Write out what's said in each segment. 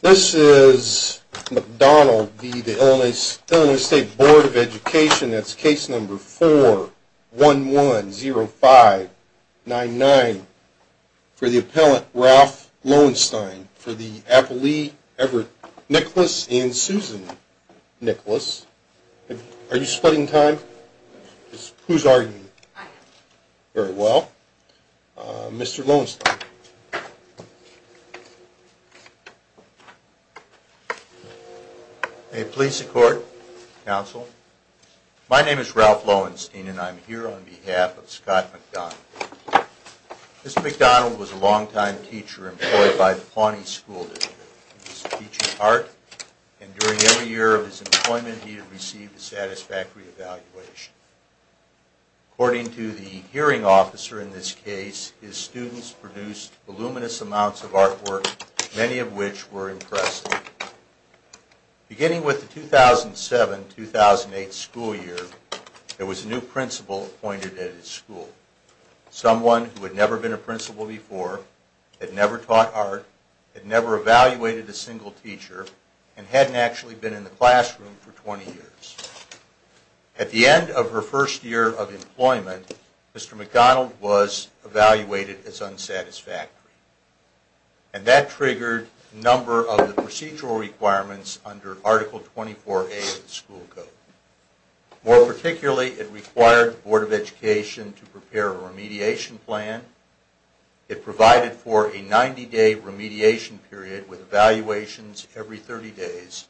This is McDonald v. Illinois State Board of Education, that's case number 4110599, for Are you splitting time? Who's arguing? Very well. Mr. Lowenstein. May it please the court, counsel. My name is Ralph Lowenstein and I'm here on behalf of Scott McDonald. Mr. McDonald was a long-time teacher employed by the Pawnee School District. He was teaching art, and during every year of his employment he had received a satisfactory evaluation. According to the hearing officer in this case, his students produced voluminous amounts of artwork, many of which were impressive. Beginning with the 2007-2008 school year, there was a new principal appointed at his school. Someone who had never been a principal before, had never taught art, had never evaluated a single teacher, and hadn't actually been in the classroom for 20 years. At the end of her first year of employment, Mr. McDonald was evaluated as unsatisfactory. And that triggered a number of procedural requirements under Article 24A of the school code. More particularly, it required the Board of Education to prepare a remediation plan. It provided for a 90-day remediation period with evaluations every 30 days,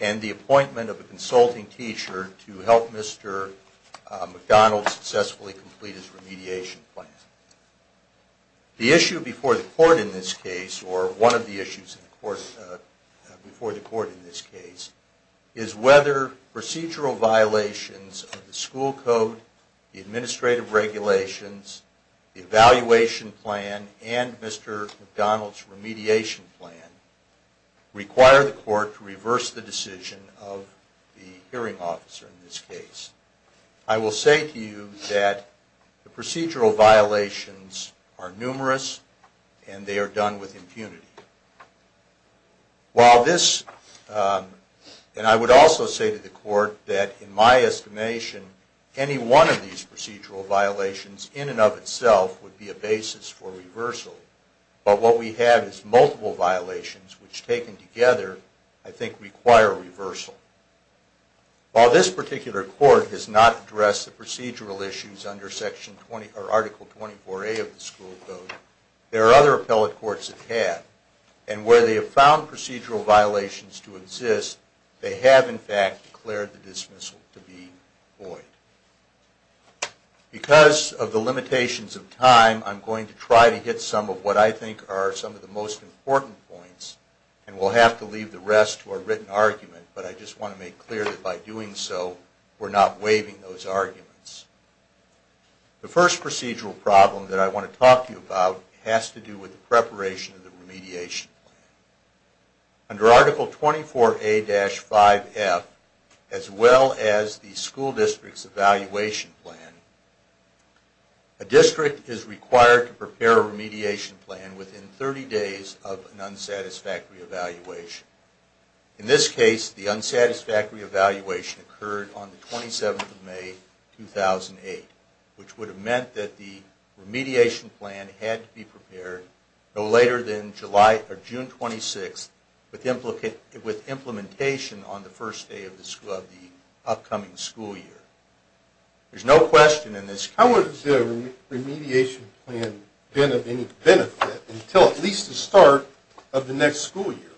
and the appointment of a consulting teacher to help Mr. McDonald successfully complete his remediation plan. The issue before the court in this case, or one of the issues before the court in this case, is whether procedural violations of the school code, the administrative regulations, the evaluation plan, and Mr. McDonald's remediation plan require the court to reverse the decision of the hearing officer in this case. I will say to you that the procedural violations are numerous, and they are done with impunity. And I would also say to the court that in my estimation, any one of these procedural violations in and of itself would be a basis for reversal. But what we have is multiple violations, which taken together, I think require reversal. While this particular court has not addressed the procedural issues under Article 24A of the school code, there are other appellate courts that have. And where they have found procedural violations to exist, they have in fact declared the dismissal to be void. Because of the limitations of time, I'm going to try to hit some of what I think are some of the most important points, and we'll have to leave the rest to a written argument. But I just want to make clear that by doing so, we're not waiving those arguments. The first procedural problem that I want to talk to you about has to do with the preparation of the remediation plan. Under Article 24A-5F, as well as the school district's evaluation plan, a district is required to prepare a remediation plan within 30 days of an unsatisfactory evaluation. In this case, the unsatisfactory evaluation occurred on the 27th of May, 2008, which would have meant that the remediation plan had to be prepared no later than June 26th, with implementation on the first day of the upcoming school year. There's no question in this case... How would the remediation plan have been of any benefit until at least the start of the next school year?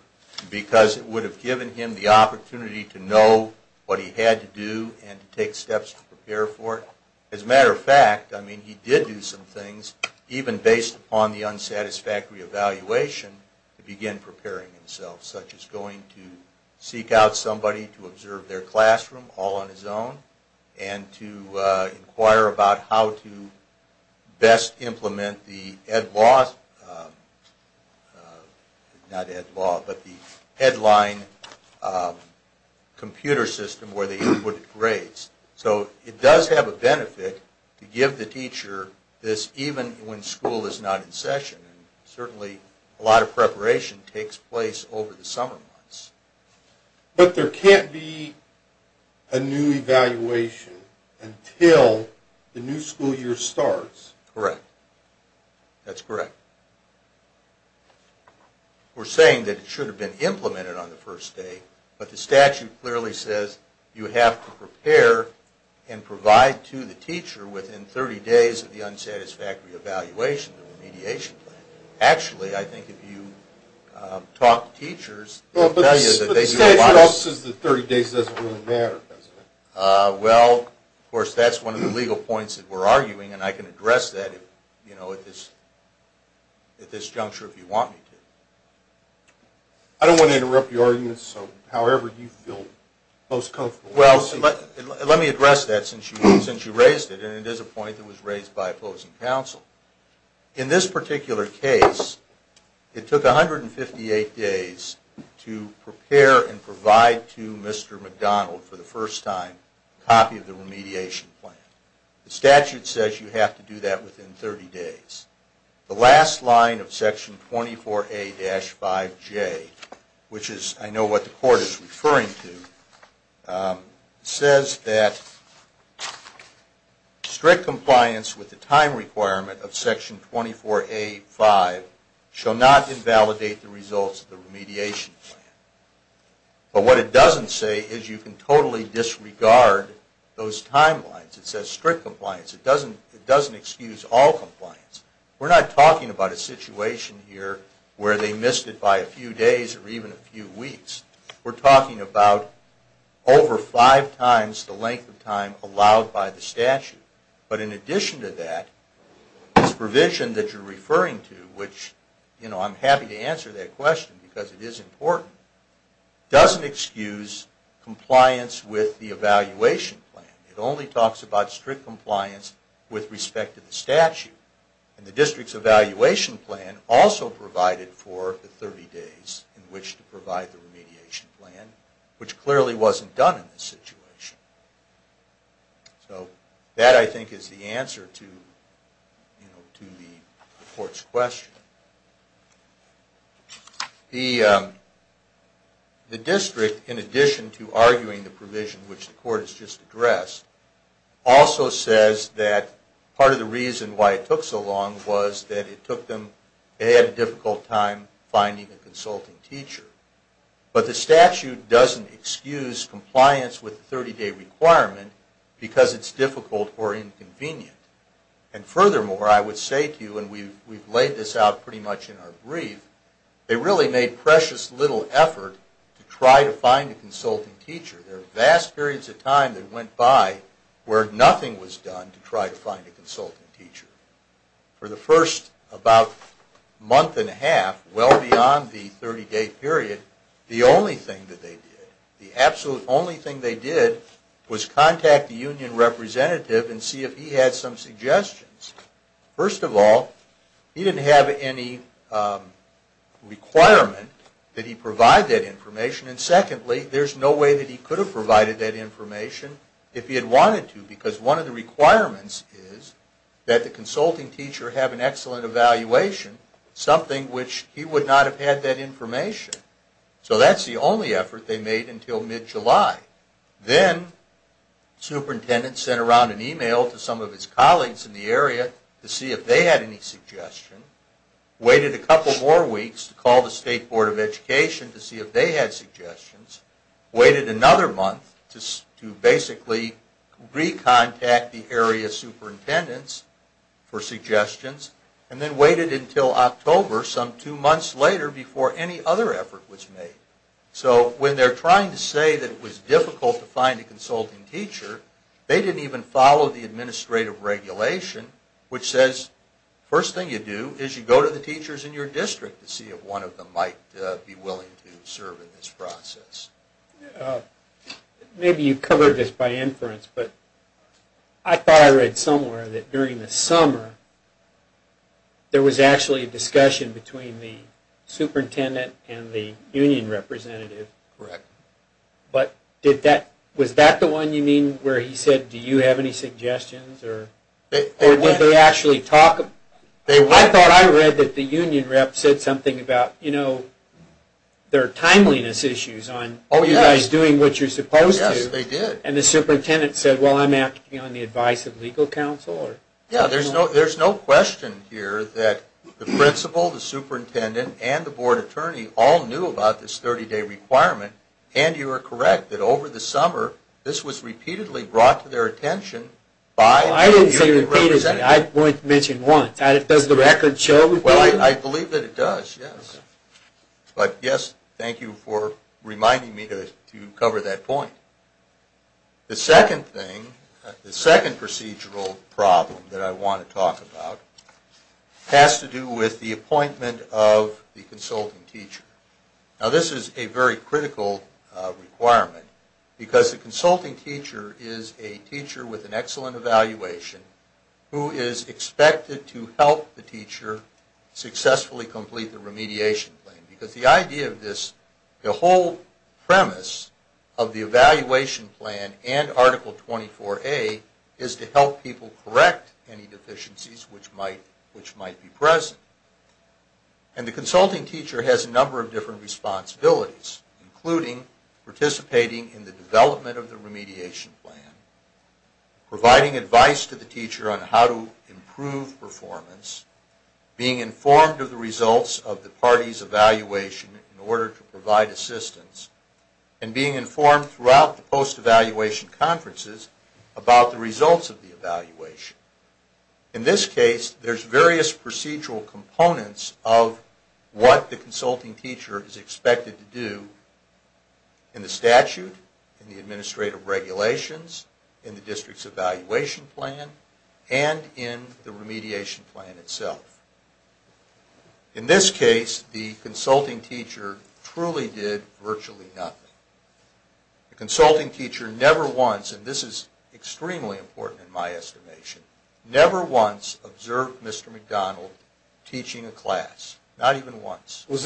Because it would have given him the opportunity to know what he had to do and take steps to prepare for it. As a matter of fact, he did do some things, even based upon the unsatisfactory evaluation, to begin preparing himself. Such as going to seek out somebody to observe their classroom, all on his own, and to inquire about how to best implement the Headline computer system where they input grades. So, it does have a benefit to give the teacher this, even when school is not in session. Certainly, a lot of preparation takes place over the summer months. But there can't be a new evaluation until the new school year starts? Correct. That's correct. We're saying that it should have been implemented on the first day, but the statute clearly says you have to prepare and provide to the teacher within 30 days of the unsatisfactory evaluation of the remediation plan. Actually, I think if you talk to teachers... But the statute also says that 30 days doesn't really matter, does it? Well, of course, that's one of the legal points that we're arguing, and I can address that at this juncture if you want me to. I don't want to interrupt your argument, so however you feel most comfortable. Well, let me address that since you raised it, and it is a point that was raised by opposing counsel. In this particular case, it took 158 days to prepare and provide to Mr. McDonald for the first time a copy of the remediation plan. The statute says you have to do that within 30 days. The last line of Section 24A-5J, which I know what the Court is referring to, says that strict compliance with the time requirement of Section 24A-5 shall not invalidate the results of the remediation plan. But what it doesn't say is you can totally disregard those timelines. It says strict compliance. It doesn't excuse all compliance. We're not talking about a situation here where they missed it by a few days or even a few weeks. We're talking about over five times the length of time allowed by the statute. But in addition to that, this provision that you're referring to, which I'm happy to answer that question because it is important, doesn't excuse compliance with the evaluation plan. It only talks about strict compliance with respect to the statute. The district's evaluation plan also provided for the 30 days in which to provide the remediation plan, which clearly wasn't done in this situation. So that, I think, is the answer to the Court's question. The district, in addition to arguing the provision which the Court has just addressed, also says that part of the reason why it took so long was that it took them... they had a difficult time finding a consulting teacher. But the statute doesn't excuse compliance with the 30-day requirement because it's difficult or inconvenient. And furthermore, I would say to you, and we've laid this out pretty much in our brief, they really made precious little effort to try to find a consulting teacher. There are vast periods of time that went by where nothing was done to try to find a consulting teacher. For the first about month and a half, well beyond the 30-day period, the only thing that they did, the absolute only thing they did, was contact the union representative and see if he had some suggestions. First of all, he didn't have any requirement that he provide that information, and secondly, there's no way that he could have provided that information if he had wanted to. Because one of the requirements is that the consulting teacher have an excellent evaluation, something which he would not have had that information. So that's the only effort they made until mid-July. Then, the superintendent sent around an email to some of his colleagues in the area to see if they had any suggestions, waited a couple more weeks to call the State Board of Education to see if they had suggestions, waited another month to basically re-contact the area superintendents for suggestions, and then waited until October, some two months later, before any other effort was made. So when they're trying to say that it was difficult to find a consulting teacher, they didn't even follow the administrative regulation which says, First thing you do is you go to the teachers in your district to see if one of them might be willing to serve in this process. Maybe you covered this by inference, but I thought I read somewhere that during the summer, there was actually a discussion between the superintendent and the union representative. Correct. Was that the one you mean where he said, do you have any suggestions, or did they actually talk? I thought I read that the union rep said something about, you know, there are timeliness issues on you guys doing what you're supposed to. Yes, they did. And the superintendent said, well, I'm acting on the advice of legal counsel. There's no question here that the principal, the superintendent, and the board attorney all knew about this 30-day requirement. And you are correct that over the summer, this was repeatedly brought to their attention by the union representative. I didn't say repeatedly. I mentioned once. Does the record show? Well, I believe that it does, yes. But yes, thank you for reminding me to cover that point. The second thing, the second procedural problem that I want to talk about has to do with the appointment of the consulting teacher. Now, this is a very critical requirement because the consulting teacher is a teacher with an excellent evaluation who is expected to help the teacher successfully complete the remediation plan. Because the idea of this, the whole premise of the evaluation plan and Article 24A is to help people correct any deficiencies which might be present. And the consulting teacher has a number of different responsibilities, including participating in the development of the remediation plan, providing advice to the teacher on how to improve performance, being informed of the results of the party's evaluation in order to provide assistance, and being informed throughout the post-evaluation conferences about the results of the evaluation. In this case, there's various procedural components of what the consulting teacher is expected to do in the statute, in the administrative regulations, in the district's evaluation plan, and in the remediation plan itself. In this case, the consulting teacher truly did virtually nothing. The consulting teacher never once, and this is extremely important in my estimation, never once observed Mr. McDonald teaching a class, not even once. Was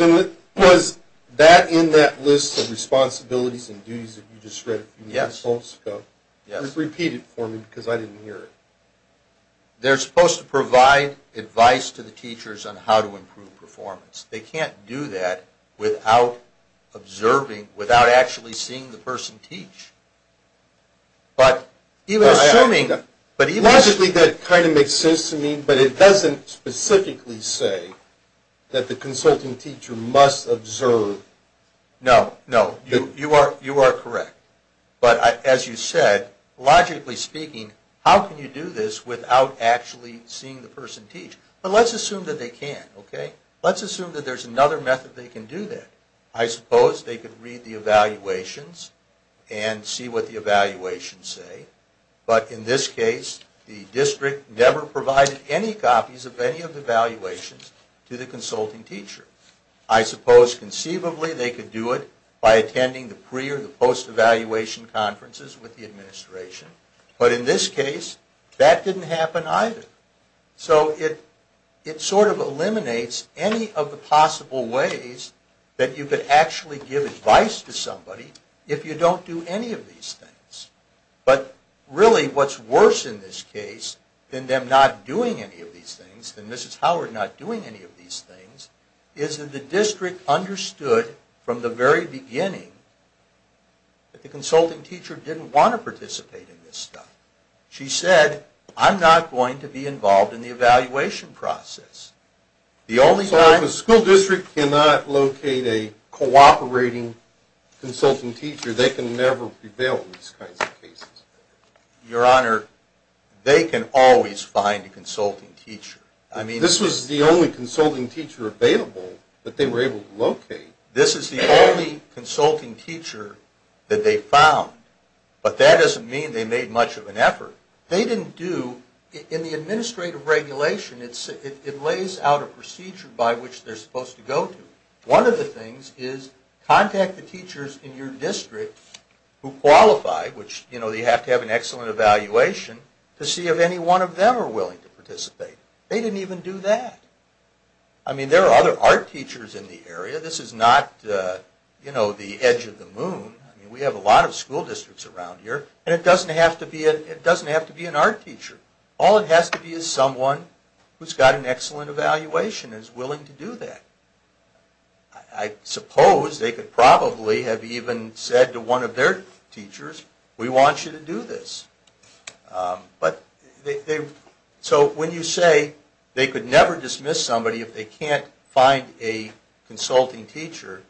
that in that list of responsibilities and duties that you just read a few minutes ago? Yes. Repeat it for me because I didn't hear it. They're supposed to provide advice to the teachers on how to improve performance. They can't do that without actually seeing the person teach. Logically, that kind of makes sense to me, but it doesn't specifically say that the consulting teacher must observe. No, you are correct. But as you said, logically speaking, how can you do this without actually seeing the person teach? But let's assume that they can. Let's assume that there's another method they can do that. I suppose they could read the evaluations and see what the evaluations say. But in this case, the district never provided any copies of any of the evaluations to the consulting teacher. I suppose conceivably they could do it by attending the pre- or the post-evaluation conferences with the administration. But in this case, that didn't happen either. So it sort of eliminates any of the possible ways that you could actually give advice to somebody if you don't do any of these things. But really what's worse in this case than them not doing any of these things, than Mrs. Howard not doing any of these things, is that the district understood from the very beginning that the consulting teacher didn't want to participate in this stuff. She said, I'm not going to be involved in the evaluation process. So if a school district cannot locate a cooperating consulting teacher, they can never prevail in these kinds of cases? Your Honor, they can always find a consulting teacher. This was the only consulting teacher available that they were able to locate. This is the only consulting teacher that they found. But that doesn't mean they made much of an effort. They didn't do, in the administrative regulation, it lays out a procedure by which they're supposed to go to. One of the things is contact the teachers in your district who qualify, which you have to have an excellent evaluation, to see if any one of them are willing to participate. They didn't even do that. I mean, there are other art teachers in the area. This is not the edge of the moon. We have a lot of school districts around here, and it doesn't have to be an art teacher. All it has to be is someone who's got an excellent evaluation and is willing to do that. I suppose they could probably have even said to one of their teachers, we want you to do this. So when you say they could never dismiss somebody if they can't find a consulting teacher,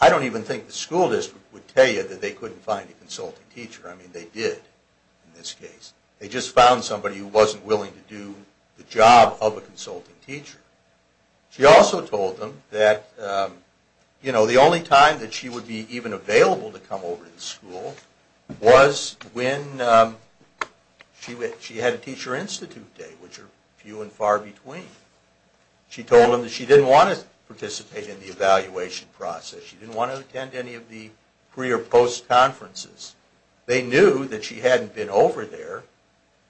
I don't even think the school district would tell you that they couldn't find a consulting teacher. I mean, they did in this case. They just found somebody who wasn't willing to do the job of a consulting teacher. She also told them that the only time that she would be even available to come over to the school was when she had a teacher institute day, which are few and far between. She told them that she didn't want to participate in the evaluation process. She didn't want to attend any of the pre- or post-conferences. They knew that she hadn't been over there,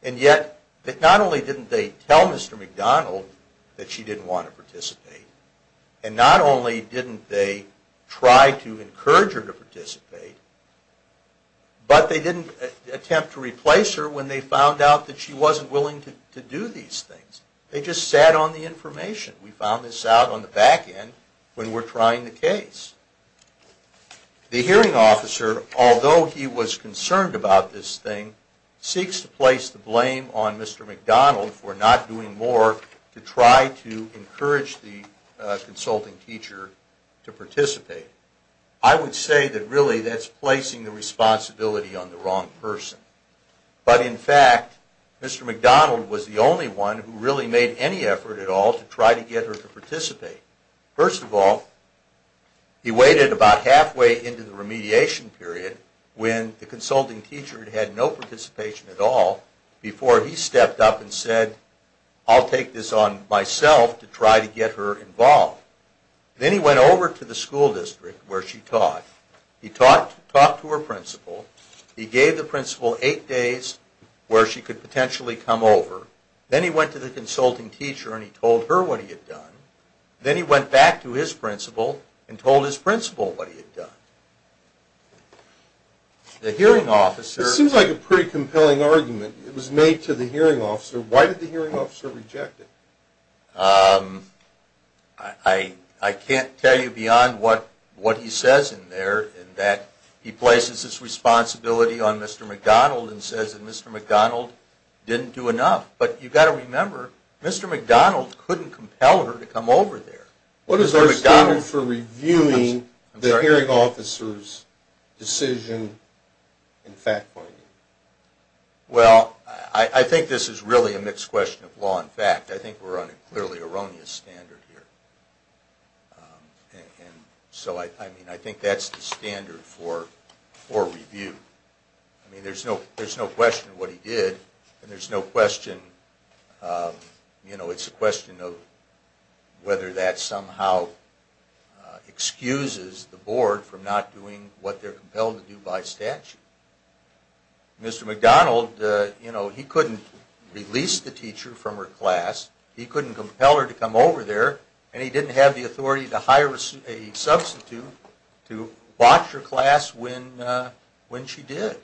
and yet not only didn't they tell Mr. McDonald that she didn't want to participate, and not only didn't they try to encourage her to participate, but they didn't attempt to replace her when they found out that she wasn't willing to do these things. They just sat on the information. We found this out on the back end when we're trying the case. The hearing officer, although he was concerned about this thing, seeks to place the blame on Mr. McDonald for not doing more to try to encourage the consulting teacher to participate. I would say that really that's placing the responsibility on the wrong person. But in fact, Mr. McDonald was the only one who really made any effort at all to try to get her to participate. First of all, he waited about halfway into the remediation period, when the consulting teacher had had no participation at all, before he stepped up and said, I'll take this on myself to try to get her involved. Then he went over to the school district where she taught. He talked to her principal. He gave the principal eight days where she could potentially come over. Then he went to the consulting teacher and he told her what he had done. Then he went back to his principal and told his principal what he had done. It seems like a pretty compelling argument. It was made to the hearing officer. Why did the hearing officer reject it? I can't tell you beyond what he says in there, in that he places his responsibility on Mr. McDonald and says that Mr. McDonald didn't do enough. But you've got to remember, Mr. McDonald couldn't compel her to come over there. What is our standard for reviewing the hearing officer's decision in fact pointing? I think this is really a mixed question of law and fact. I think we're on a clearly erroneous standard here. I think that's the standard for review. There's no question of what he did. It's a question of whether that somehow excuses the board from not doing what they're compelled to do by statute. Mr. McDonald couldn't release the teacher from her class, he couldn't compel her to come over there, and he didn't have the authority to hire a substitute to watch her class when she did.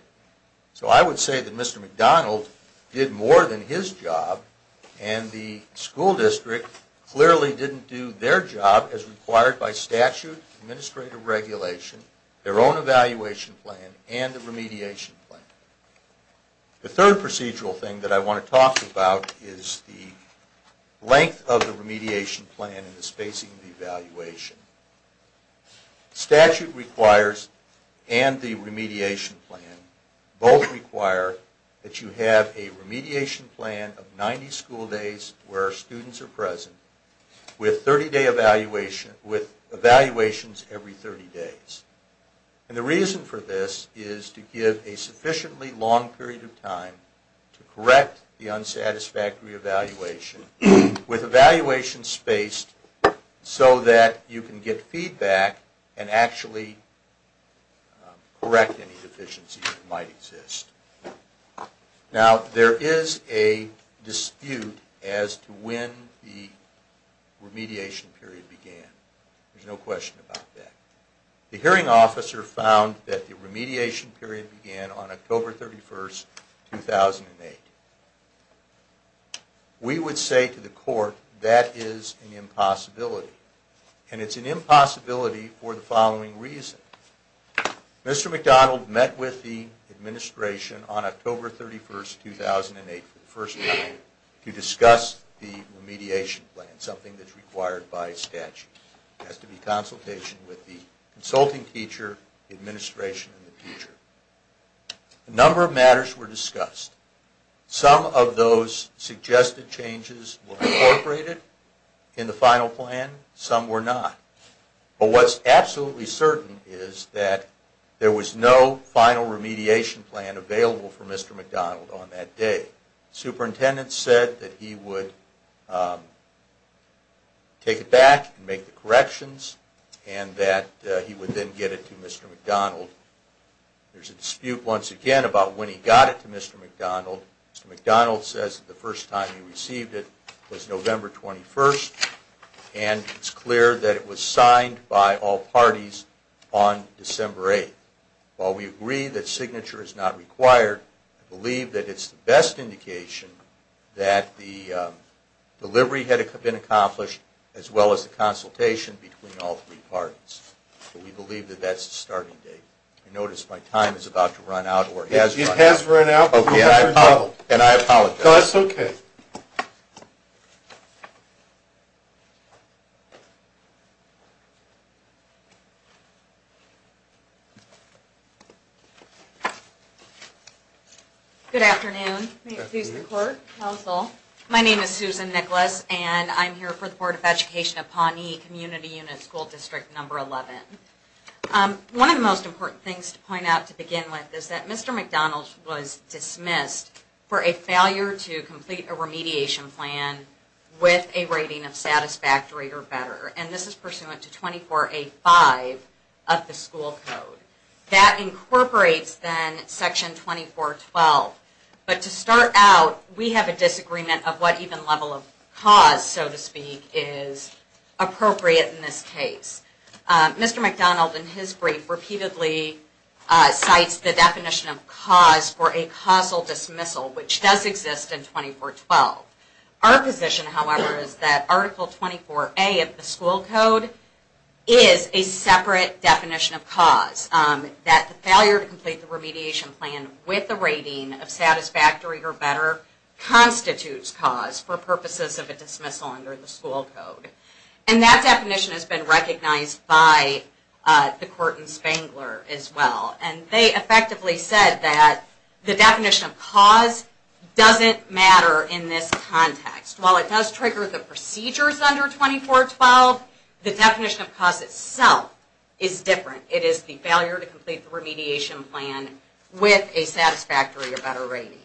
So I would say that Mr. McDonald did more than his job, and the school district clearly didn't do their job as required by statute, the administrative regulation, their own evaluation plan, and the remediation plan. The third procedural thing that I want to talk about is the length of the remediation plan and the spacing of the evaluation. The statute requires, and the remediation plan, both require that you have a remediation plan of 90 school days where students are present with evaluations every 30 days. And the reason for this is to give a sufficiently long period of time to correct the unsatisfactory evaluation with evaluation spaced so that you can get feedback and actually correct any deficiencies that might exist. Now, there is a dispute as to when the remediation period began. There's no question about that. The hearing officer found that the remediation period began on October 31, 2008. We would say to the court, that is an impossibility. And it's an impossibility for the following reason. Mr. McDonald met with the administration on October 31, 2008 for the first time to discuss the remediation plan, something that's required by statute. There has to be consultation with the consulting teacher, the administration, and the teacher. A number of matters were discussed. Some of those suggested changes were incorporated in the final plan. Some were not. But what's absolutely certain is that there was no final remediation plan available for Mr. McDonald on that day. The superintendent said that he would take it back and make the corrections, and that he would then get it to Mr. McDonald. There's a dispute, once again, about when he got it to Mr. McDonald. Mr. McDonald says that the first time he received it was November 21, and it's clear that it was signed by all parties on December 8. While we agree that signature is not required, I believe that it's the best indication that the delivery had been accomplished, as well as the consultation between all three parties. We believe that that's the starting date. I notice my time is about to run out. It has run out. And I apologize. No, that's okay. Good afternoon. May it please the court, counsel. My name is Susan Nicholas, and I'm here for the Board of Education of Pawnee Community Unit School District Number 11. One of the most important things to point out to begin with is that Mr. McDonald was dismissed for a failure to complete a remediation plan with a rating of satisfactory or better, and this is pursuant to 24A5 of the school code. That incorporates, then, Section 2412. But to start out, we have a disagreement of what even level of cause, so to speak, is appropriate in this case. Mr. McDonald, in his brief, repeatedly cites the definition of cause for a causal dismissal, which does exist in 2412. Our position, however, is that Article 24A of the school code is a separate definition of cause, that the failure to complete the remediation plan with a rating of satisfactory or better constitutes cause for purposes of a dismissal under the school code. And that definition has been recognized by the court in Spangler as well, and they effectively said that the definition of cause doesn't matter in this context. While it does trigger the procedures under 2412, the definition of cause itself is different. It is the failure to complete the remediation plan with a satisfactory or better rating.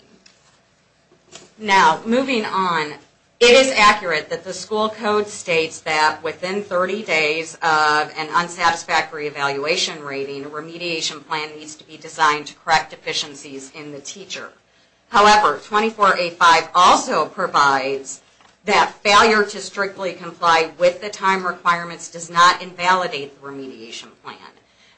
Now, moving on, it is accurate that the school code states that within 30 days of an unsatisfactory evaluation rating, a remediation plan needs to be designed to correct deficiencies in the teacher. However, 24A5 also provides that failure to strictly comply with the time requirements does not invalidate the remediation plan.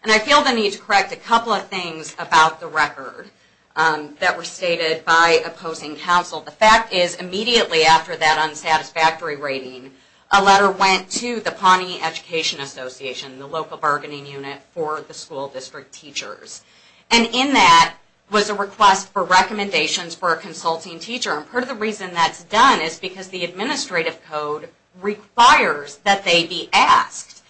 And I feel the need to correct a couple of things about the record that were stated by opposing counsel. The fact is, immediately after that unsatisfactory rating, a letter went to the Pawnee Education Association, the local bargaining unit for the school district teachers. And in that was a request for recommendations for a consulting teacher. And part of the reason that's done is because the administrative code requires that they be asked.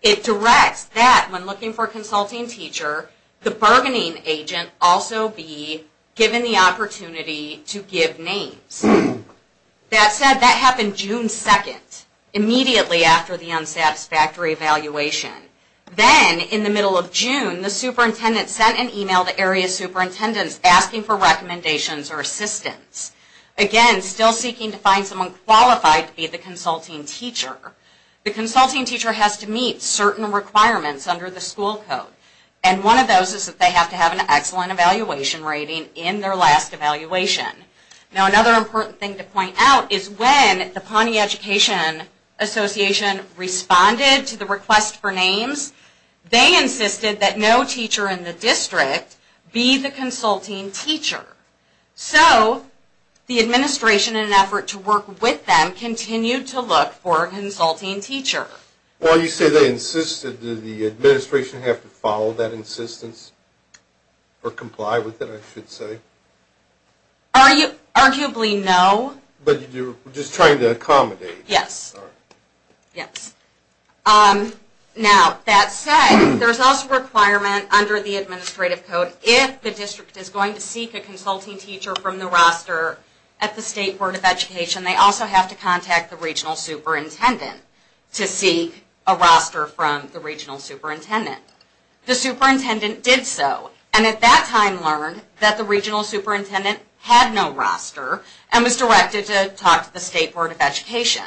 It directs that when looking for a consulting teacher, the bargaining agent also be given the opportunity to give names. That said, that happened June 2nd, immediately after the unsatisfactory evaluation. Then, in the middle of June, the superintendent sent an email to area superintendents asking for recommendations or assistance. Again, still seeking to find someone qualified to be the consulting teacher. The consulting teacher has to meet certain requirements under the school code. And one of those is that they have to have an excellent evaluation rating in their last evaluation. Now another important thing to point out is when the Pawnee Education Association responded to the request for names, they insisted that no teacher in the district be the consulting teacher. So, the administration, in an effort to work with them, continued to look for a consulting teacher. Well, you say they insisted. Did the administration have to follow that insistence? Or comply with it, I should say? Arguably, no. But you were just trying to accommodate. Yes. Yes. Now, that said, there's also a requirement under the administrative code that if the district is going to seek a consulting teacher from the roster at the State Board of Education, they also have to contact the regional superintendent to seek a roster from the regional superintendent. The superintendent did so. And at that time learned that the regional superintendent had no roster and was directed to talk to the State Board of Education,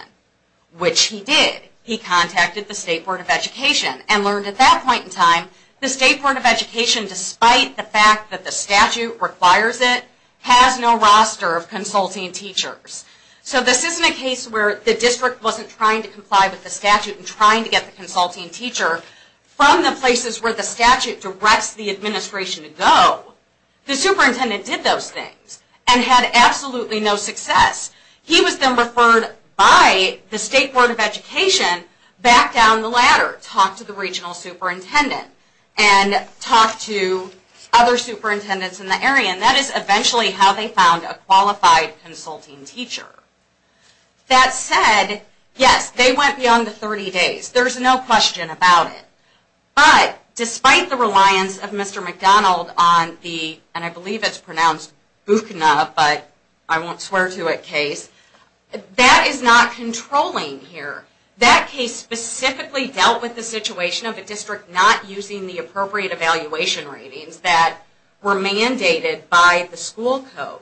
which he did. He contacted the State Board of Education and learned at that point in time the State Board of Education, despite the fact that the statute requires it, has no roster of consulting teachers. So, this isn't a case where the district wasn't trying to comply with the statute and trying to get the consulting teacher from the places where the statute directs the administration to go. The superintendent did those things and had absolutely no success. He was then referred by the State Board of Education back down the ladder to talk to the regional superintendent and talk to other superintendents in the area. And that is eventually how they found a qualified consulting teacher. That said, yes, they went beyond the 30 days. There's no question about it. But, despite the reliance of Mr. McDonald on the, and I believe it's pronounced Bukna, but I won't swear to it, case, that is not controlling here. That case specifically dealt with the situation of a district not using the appropriate evaluation ratings that were mandated by the school code.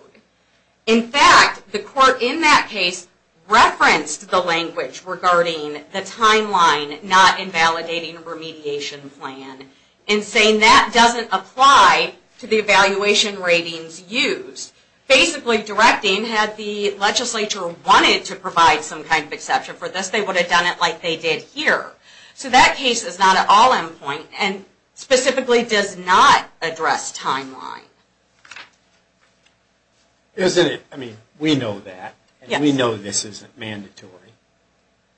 In fact, the court in that case referenced the language regarding the timeline not invalidating remediation plan and saying that doesn't apply to the evaluation ratings used. Basically directing, had the legislature wanted to provide some kind of exception for this, they would have done it like they did here. So that case is not at all in point and specifically does not address timeline. Isn't it? I mean, we know that. And we know this isn't mandatory.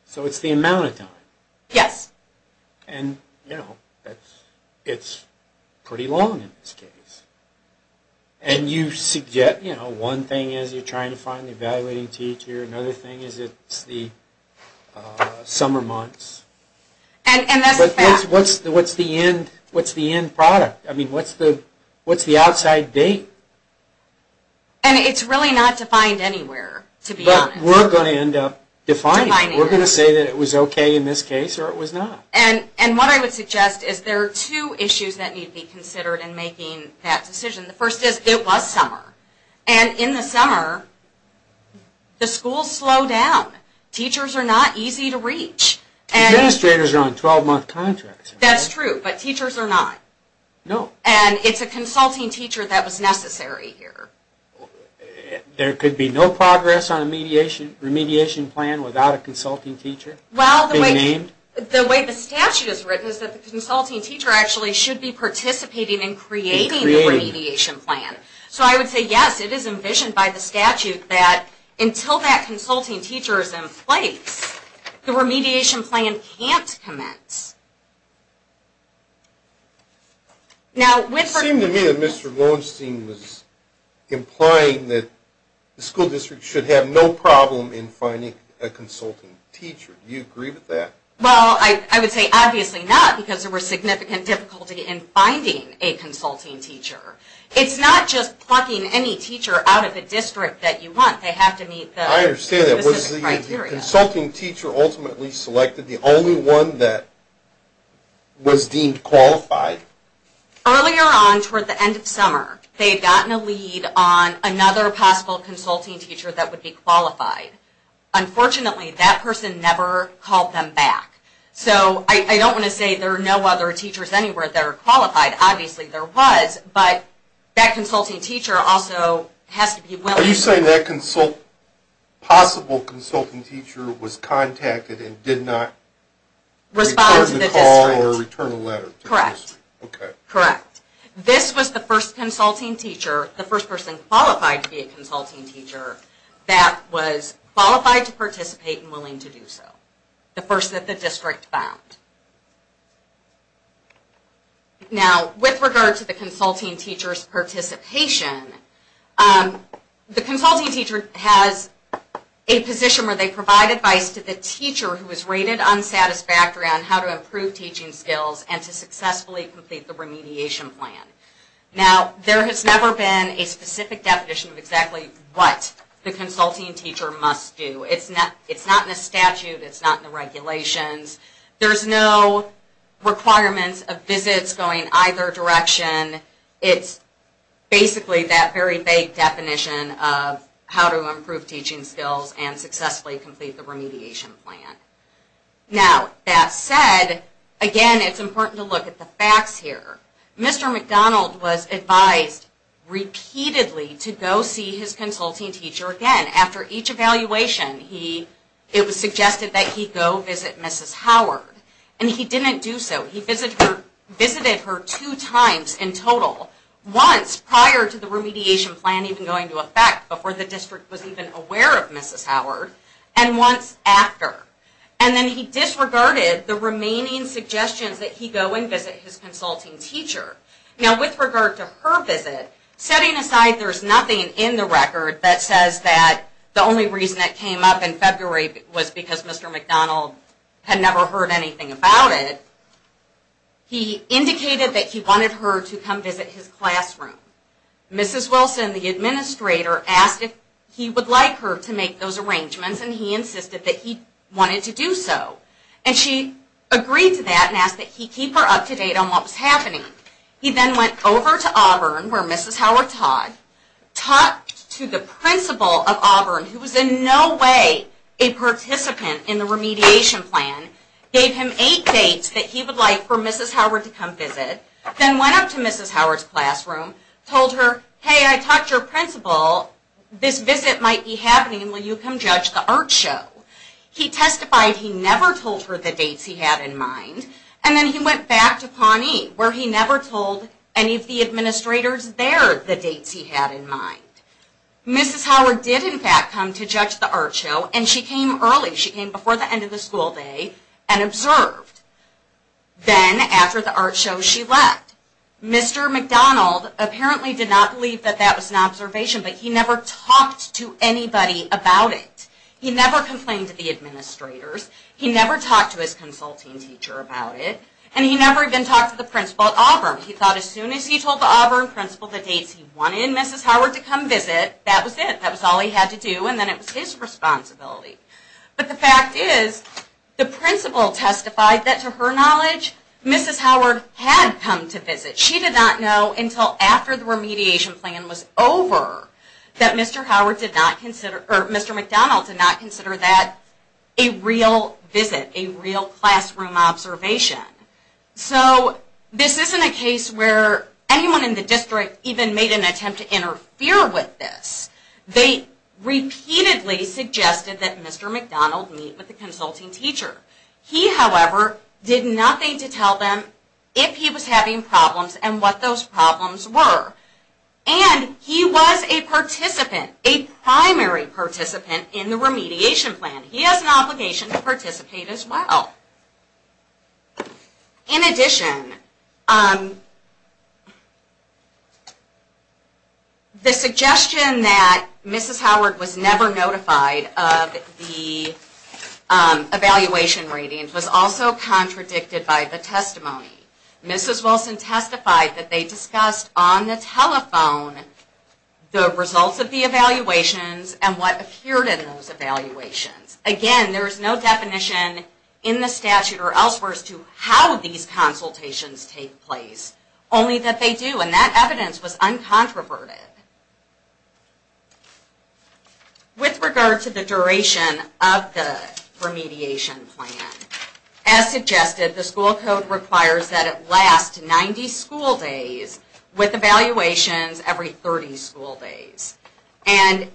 So it's the amount of time. Yes. And, you know, it's pretty long in this case. And you suggest, you know, one thing is you're trying to find the evaluating teacher. Another thing is it's the summer months. And that's a fact. What's the end product? I mean, what's the outside date? And it's really not defined anywhere, to be honest. But we're going to end up defining it. We're going to say that it was okay in this case or it was not. And what I would suggest is there are two issues that need to be considered in making that decision. The first is it was summer. And in the summer, the schools slow down. Teachers are not easy to reach. Administrators are on 12-month contracts. That's true, but teachers are not. No. And it's a consulting teacher that was necessary here. There could be no progress on a remediation plan without a consulting teacher being named? Well, the way the statute is written is that the consulting teacher actually should be participating in creating the remediation plan. So I would say, yes, it is envisioned by the statute that until that consulting teacher is in place, the remediation plan can't commence. It seemed to me that Mr. Lowenstein was implying that the school district should have no problem in finding a consulting teacher. Do you agree with that? Well, I would say obviously not because there was significant difficulty in finding a consulting teacher. It's not just plucking any teacher out of a district that you want. They have to meet the specific criteria. I understand that. Was the consulting teacher ultimately selected the only one that was deemed qualified? Earlier on toward the end of summer, they had gotten a lead on another possible consulting teacher that would be qualified. Unfortunately, that person never called them back. So I don't want to say there are no other teachers anywhere that are qualified. Obviously, there was, but that consulting teacher also has to be willing. Are you saying that possible consulting teacher was contacted and did not respond to the call or return a letter? Correct. Okay. Correct. This was the first consulting teacher, the first person qualified to be a consulting teacher, that was qualified to participate and willing to do so. The first that the district found. Now, with regard to the consulting teacher's participation, the consulting teacher has a position where they provide advice to the teacher who is rated unsatisfactory on how to improve teaching skills and to successfully complete the remediation plan. Now, there has never been a specific definition of exactly what the consulting teacher must do. It's not in the statute. It's not in the regulations. There's no requirements of visits going either direction. It's basically that very vague definition of how to improve teaching skills and successfully complete the remediation plan. Now, that said, again, it's important to look at the facts here. Mr. McDonald was advised repeatedly to go see his consulting teacher again. After each evaluation, it was suggested that he go visit Mrs. Howard. And he didn't do so. He visited her two times in total, once prior to the remediation plan even going into effect, before the district was even aware of Mrs. Howard, and once after. And then he disregarded the remaining suggestions that he go and visit his consulting teacher. Now, with regard to her visit, setting aside there's nothing in the record that says that the only reason it came up in February was because Mr. McDonald had never heard anything about it, he indicated that he wanted her to come visit his classroom. Mrs. Wilson, the administrator, asked if he would like her to make those arrangements, and he insisted that he wanted to do so. And she agreed to that and asked that he keep her up to date on what was happening. He then went over to Auburn, where Mrs. Howard taught, talked to the principal of Auburn, who was in no way a participant in the remediation plan, gave him eight dates that he would like for Mrs. Howard to come visit, then went up to Mrs. Howard's classroom, told her, hey, I talked to your principal, this visit might be happening, will you come judge the art show? He testified he never told her the dates he had in mind. And then he went back to Pawnee, where he never told any of the administrators there the dates he had in mind. Mrs. Howard did, in fact, come to judge the art show, and she came early, she came before the end of the school day, and observed. Then, after the art show, she left. Mr. McDonald apparently did not believe that that was an observation, but he never talked to anybody about it. He never complained to the administrators, he never talked to his consulting teacher about it, and he never even talked to the principal at Auburn. He thought as soon as he told the Auburn principal the dates he wanted Mrs. Howard to come visit, that was it. That was all he had to do, and then it was his responsibility. But the fact is, the principal testified that, to her knowledge, Mrs. Howard had come to visit. She did not know until after the remediation plan was over that Mr. McDonald did not consider that a real visit, a real classroom observation. So, this isn't a case where anyone in the district even made an attempt to interfere with this. They repeatedly suggested that Mr. McDonald meet with the consulting teacher. He, however, did nothing to tell them if he was having problems and what those problems were. And, he was a participant, a primary participant in the remediation plan. He has an obligation to participate as well. In addition, the suggestion that Mrs. Howard was never notified of the evaluation ratings was also contradicted by the testimony. Mrs. Wilson testified that they discussed on the telephone the results of the evaluations and what appeared in those evaluations. Again, there is no definition in the statute or elsewhere as to how these consultations take place. Only that they do, and that evidence was uncontroverted. With regard to the duration of the remediation plan, as suggested, the school code requires that it last 90 school days with evaluations every 30 school days. And,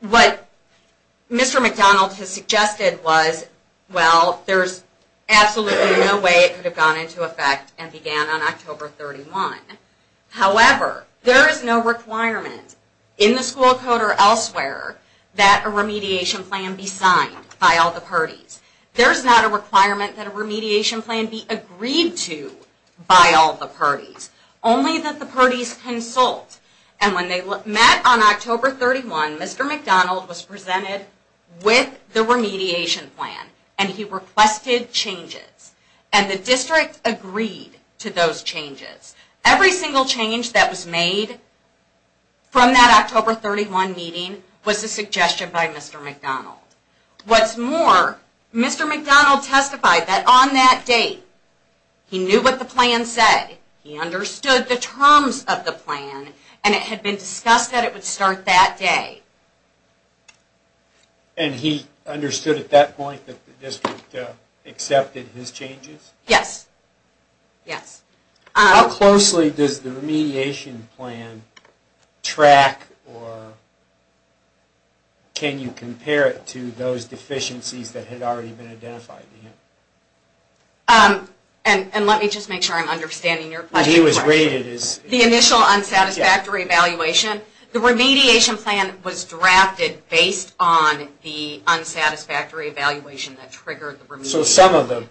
what Mr. McDonald has suggested was, well, there's absolutely no way it could have gone into effect and began on October 31. However, there is no requirement in the school code or elsewhere that a remediation plan be signed by all the parties. There's not a requirement that a remediation plan be agreed to by all the parties. Only that the parties consult. And when they met on October 31, Mr. McDonald was presented with the remediation plan and he requested changes. And the district agreed to those changes. Every single change that was made from that October 31 meeting was a suggestion by Mr. McDonald. What's more, Mr. McDonald testified that on that date, he knew what the plan said, he understood the terms of the plan, and it had been discussed that it would start that day. And he understood at that point that the district accepted his changes? Yes. Yes. How closely does the remediation plan track or can you compare it to those deficiencies that had already been identified? And let me just make sure I'm understanding your question. The initial unsatisfactory evaluation. The remediation plan was drafted based on the unsatisfactory evaluation that triggered the remediation. So some of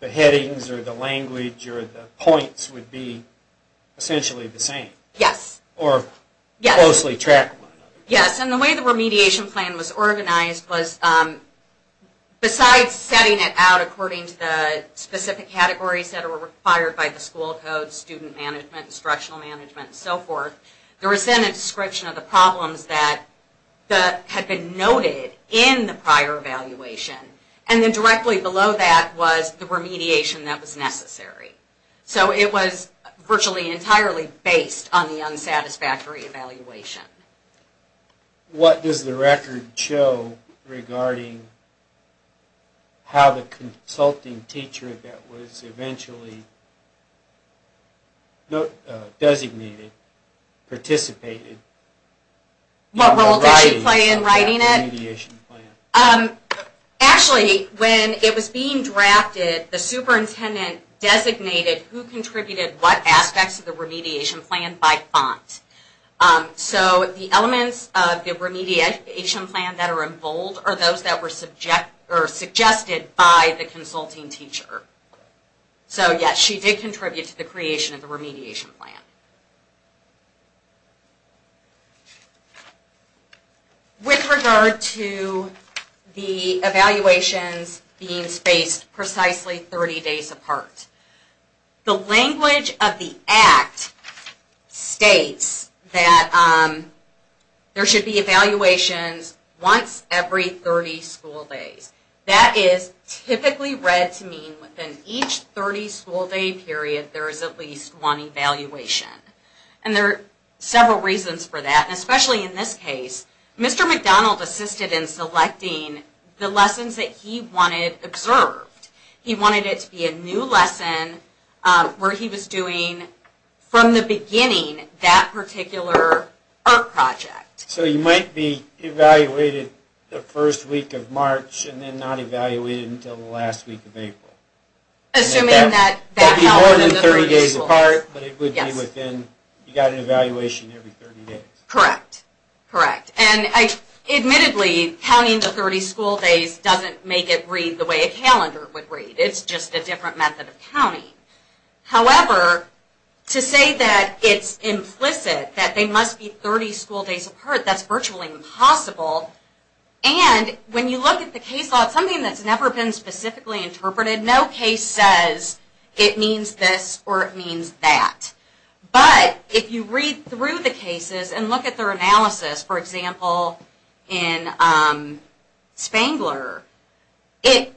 the headings or the language or the points would be essentially the same? Yes. Or closely tracked? Yes. And the way the remediation plan was organized was besides setting it out according to the specific categories that were required by the school code, student management, instructional management, and so forth, there was then a description of the problems that had been noted in the prior evaluation. And then directly below that was the remediation that was necessary. So it was virtually entirely based on the unsatisfactory evaluation. What does the record show regarding how the consulting teacher that was eventually designated participated? What role did she play in writing it? Actually, when it was being drafted, the superintendent designated who contributed what aspects of the remediation plan by font. So the elements of the remediation plan that are in bold are those that were suggested by the consulting teacher. So yes, she did contribute to the creation of the remediation plan. With regard to the evaluations being spaced precisely 30 days apart, the language of the Act states that there should be evaluations once every 30 school days. That is typically read to mean within each 30 school day period there is at least one evaluation. And there are several reasons for that. Especially in this case, Mr. McDonald assisted in selecting the lessons that he wanted observed. He wanted it to be a new lesson where he was doing, from the beginning, that particular art project. So you might be evaluated the first week of March and then not evaluated until the last week of April. Assuming that... That would be more than 30 days apart, but it would be within... You got an evaluation every 30 days. Correct. Admittedly, counting the 30 school days doesn't make it read the way a calendar would read. It's just a different method of counting. However, to say that it's implicit, that there must be 30 school days apart, that's virtually impossible. And when you look at the case law, it's something that's never been specifically interpreted. No case says it means this or it means that. But if you read through the cases and look at their analysis, for example, in Spangler, it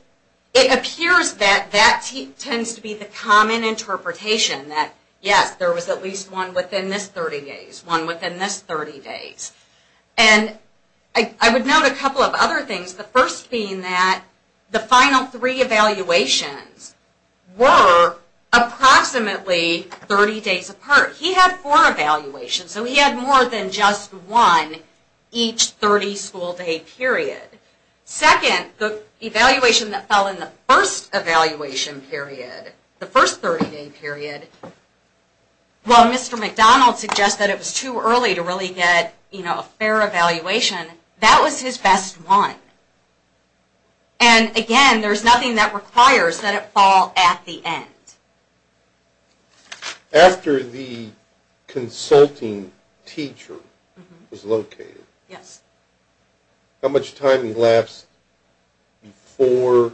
appears that that tends to be the common interpretation. That, yes, there was at least one within this 30 days, one within this 30 days. And I would note a couple of other things. The first being that the final three evaluations were approximately 30 days apart. He had four evaluations, so he had more than just one each 30 school day period. Second, the evaluation that fell in the first evaluation period, the first 30 day period, while Mr. McDonald suggested it was too early to really get a fair evaluation, that was his best one. And again, there's nothing that requires that it fall at the end. After the consulting teacher was located, how much time lapsed before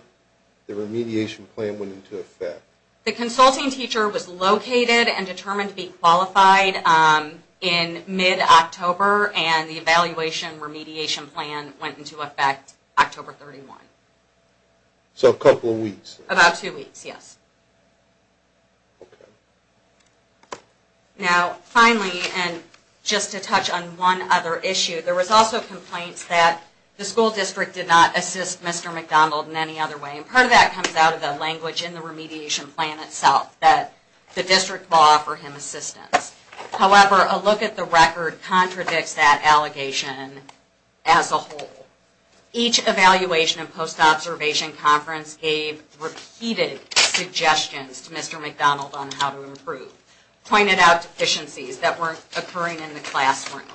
the remediation plan went into effect? The consulting teacher was located and determined to be qualified in mid-October, and the evaluation remediation plan went into effect October 31. So a couple of weeks. About two weeks, yes. Now, finally, and just to touch on one other issue, there was also complaints that the school district did not assist Mr. McDonald in any other way. And part of that comes out of the language in the remediation plan itself, that the district will offer him assistance. However, a look at the record contradicts that allegation as a whole. Each evaluation and post-observation conference gave repeated suggestions to Mr. McDonald on how to improve, pointed out deficiencies that weren't occurring in the classroom.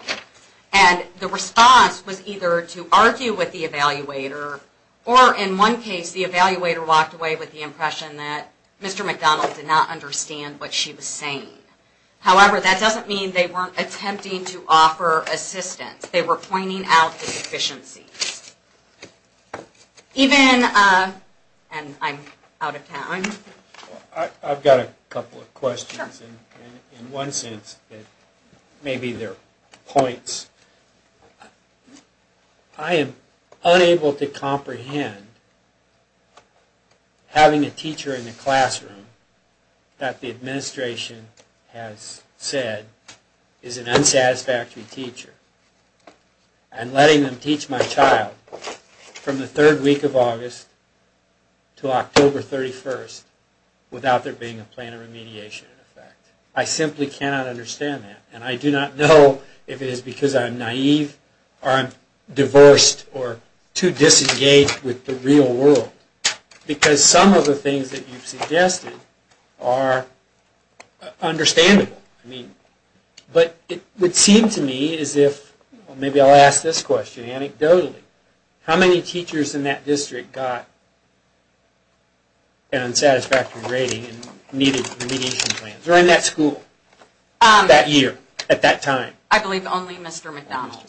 And the response was either to argue with the evaluator, or in one case the evaluator walked away with the impression that Mr. McDonald did not understand what she was saying. However, that doesn't mean they weren't attempting to offer assistance. They were pointing out deficiencies. Even, and I'm out of time. I've got a couple of questions. In one sense, maybe they're points. I am unable to comprehend having a teacher in the classroom that the administration has said is an unsatisfactory teacher. And letting them teach my child from the third week of August to October 31st without there being a plan of remediation in effect. I simply cannot understand that. And I do not know if it is because I'm naive or I'm diversed or too disengaged with the real world. Because some of the things that you've suggested are understandable. But it would seem to me as if, maybe I'll ask this question anecdotally. How many teachers in that district got an unsatisfactory rating and needed remediation plans during that school, that year, at that time? I believe only Mr. McDonald.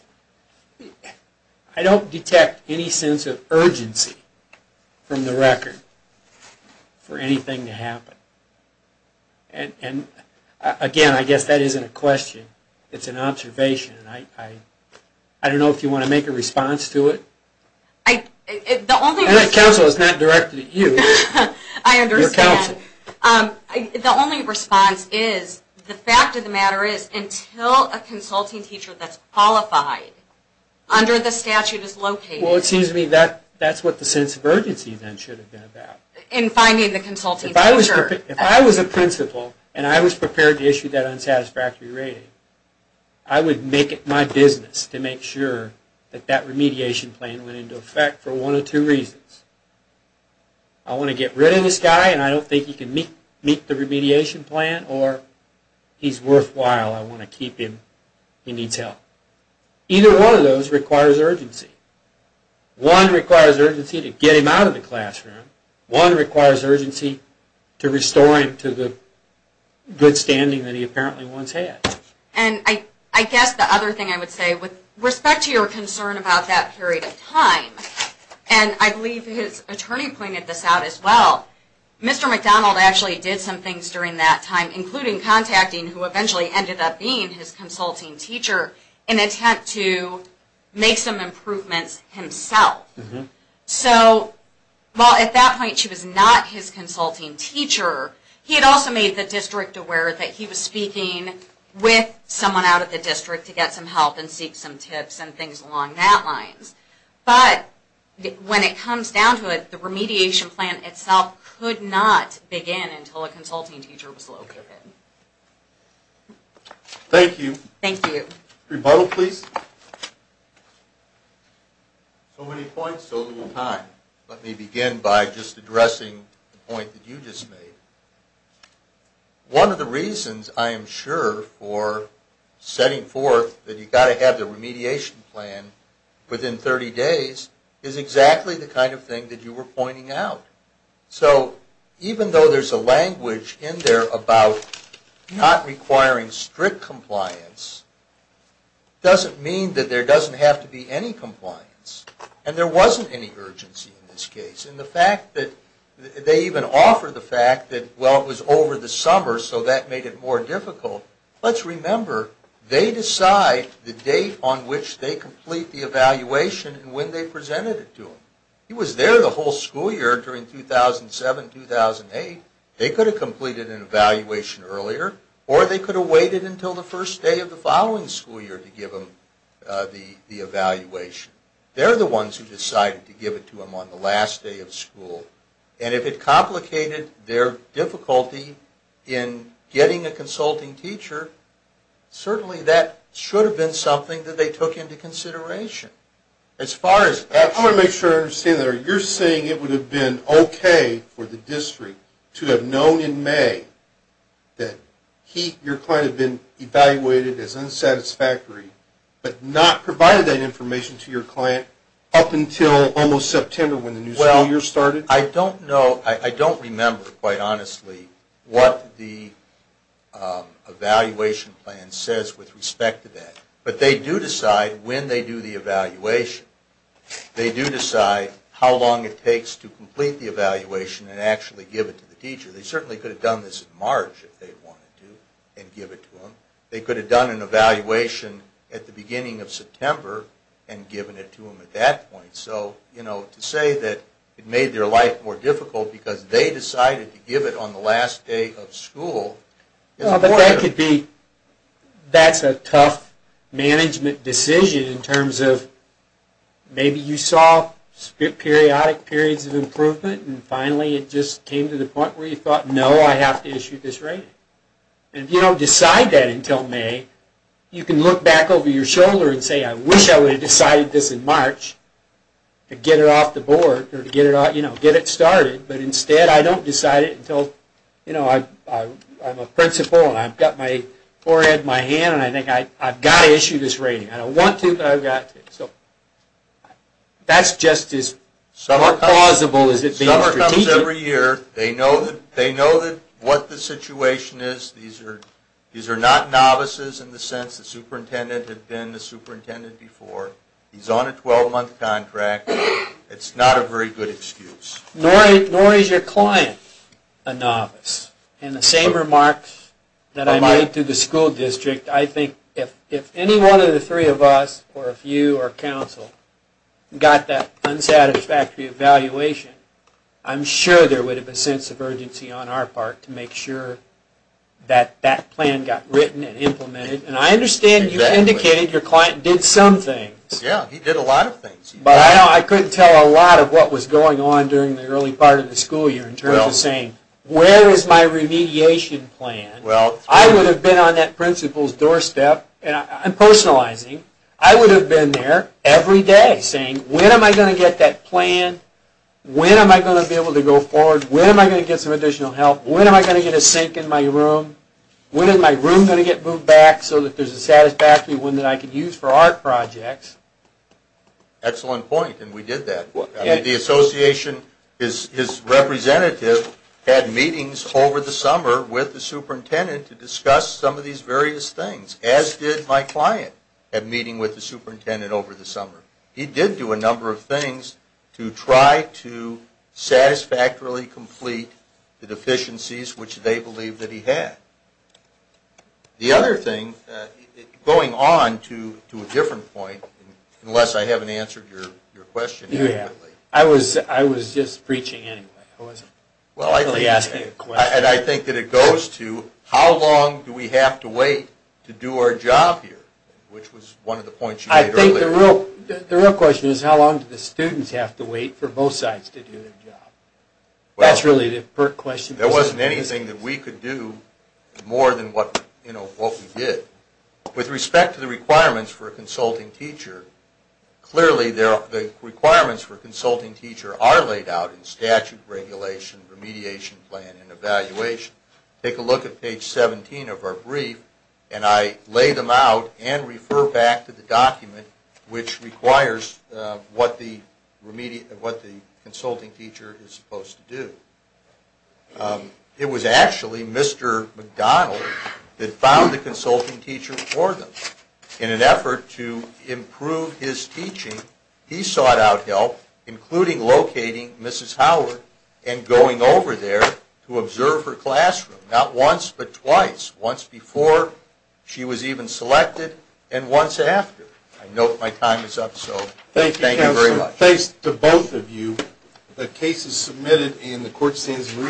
I don't detect any sense of urgency from the record for anything to happen. And again, I guess that isn't a question. It's an observation. I don't know if you want to make a response to it. The only response is, the fact of the matter is, until a consulting teacher that's qualified under the statute is located. Well, it seems to me that's what the sense of urgency then should have been about. If I was a principal and I was prepared to issue that unsatisfactory rating, I would make it my business to make sure that that remediation plan went into effect for one of two reasons. I want to get rid of this guy and I don't think he can meet the remediation plan. Or he's worthwhile, I want to keep him, he needs help. Either one of those requires urgency. One requires urgency to get him out of the classroom. One requires urgency to restore him to the good standing that he apparently once had. And I guess the other thing I would say, with respect to your concern about that period of time, and I believe his attorney pointed this out as well, Mr. McDonald actually did some things during that time, including contacting, who eventually ended up being his consulting teacher, in an attempt to make some improvements himself. So, while at that point she was not his consulting teacher, he had also made the district aware that he was speaking with someone out of the district to get some help and seek some tips and things along that line. But, when it comes down to it, the remediation plan itself could not begin until a consulting teacher was located. Thank you. Thank you. Rebuttal please. So many points, so little time. Let me begin by just addressing the point that you just made. One of the reasons, I am sure, for setting forth that you've got to have the remediation plan within 30 days is exactly the kind of thing that you were pointing out. So, even though there's a language in there about not requiring strict compliance, it doesn't mean that there doesn't have to be any compliance. And there wasn't any urgency in this case. And the fact that they even offer the fact that, well, it was over the summer, so that made it more difficult. Let's remember, they decide the date on which they complete the evaluation and when they presented it to them. He was there the whole school year, during 2007-2008. They could have completed an evaluation earlier, or they could have waited until the first day of the following school year to give him the evaluation. They're the ones who decided to give it to him on the last day of school. And if it complicated their difficulty in getting a consulting teacher, certainly that should have been something that they took into consideration. I want to make sure I understand that. You're saying it would have been okay for the district to have known in May that your client had been evaluated as unsatisfactory, but not provided that information to your client up until almost September when the new school year started? Well, I don't know. I don't remember, quite honestly, what the evaluation plan says with respect to that. But they do decide when they do the evaluation. They do decide how long it takes to complete the evaluation and actually give it to the teacher. They certainly could have done this in March, if they wanted to, and give it to him. They could have done an evaluation at the beginning of September and given it to him at that point. So to say that it made their life more difficult because they decided to give it on the last day of school... That's a tough management decision in terms of maybe you saw periodic periods of improvement, and finally it just came to the point where you thought, no, I have to issue this rating. And if you don't decide that until May, you can look back over your shoulder and say, I wish I would have decided this in March to get it off the board or to get it started. But instead, I don't decide it until I'm a principal and I've got my forehead in my hand and I think, I've got to issue this rating. I don't want to, but I've got to. So that's just as plausible as it being strategic. They do this every year. They know what the situation is. These are not novices in the sense the superintendent had been the superintendent before. He's on a 12-month contract. It's not a very good excuse. Nor is your client a novice. In the same remarks that I made to the school district, I think if any one of the three of us, or if you or counsel, got that unsatisfactory evaluation, I'm sure there would have been a sense of urgency on our part to make sure that that plan got written and implemented. And I understand you indicated your client did some things. Yeah, he did a lot of things. But I couldn't tell a lot of what was going on during the early part of the school year in terms of saying, where is my remediation plan? I would have been on that principal's doorstep. I'm personalizing. I would have been there every day saying, when am I going to get that plan? When am I going to be able to go forward? When am I going to get some additional help? When am I going to get a sink in my room? When is my room going to get moved back so that there's a satisfactory one that I can use for art projects? Excellent point, and we did that. The association, his representative had meetings over the summer with the superintendent to discuss some of these various things, as did my client at meeting with the superintendent over the summer. He did do a number of things to try to satisfactorily complete the deficiencies which they believed that he had. The other thing, going on to a different point, unless I haven't answered your question. You have. I was just preaching anyway. I wasn't really asking a question. I think that it goes to how long do we have to wait to do our job here, which was one of the points you made earlier. The real question is how long do the students have to wait for both sides to do their job? That's really the pert question. There wasn't anything that we could do more than what we did. With respect to the requirements for a consulting teacher, clearly the requirements for a consulting teacher are laid out in statute, regulation, remediation plan, and evaluation. Take a look at page 17 of our brief, and I lay them out and refer back to the document, which requires what the consulting teacher is supposed to do. It was actually Mr. McDonald that found the consulting teacher for them. In an effort to improve his teaching, he sought out help, including locating Mrs. Howard and going over there to observe her classroom, not once but twice. Once before she was even selected, and once after. I note my time is up, so thank you very much. Thanks to both of you. The case is submitted and the court stands in recess.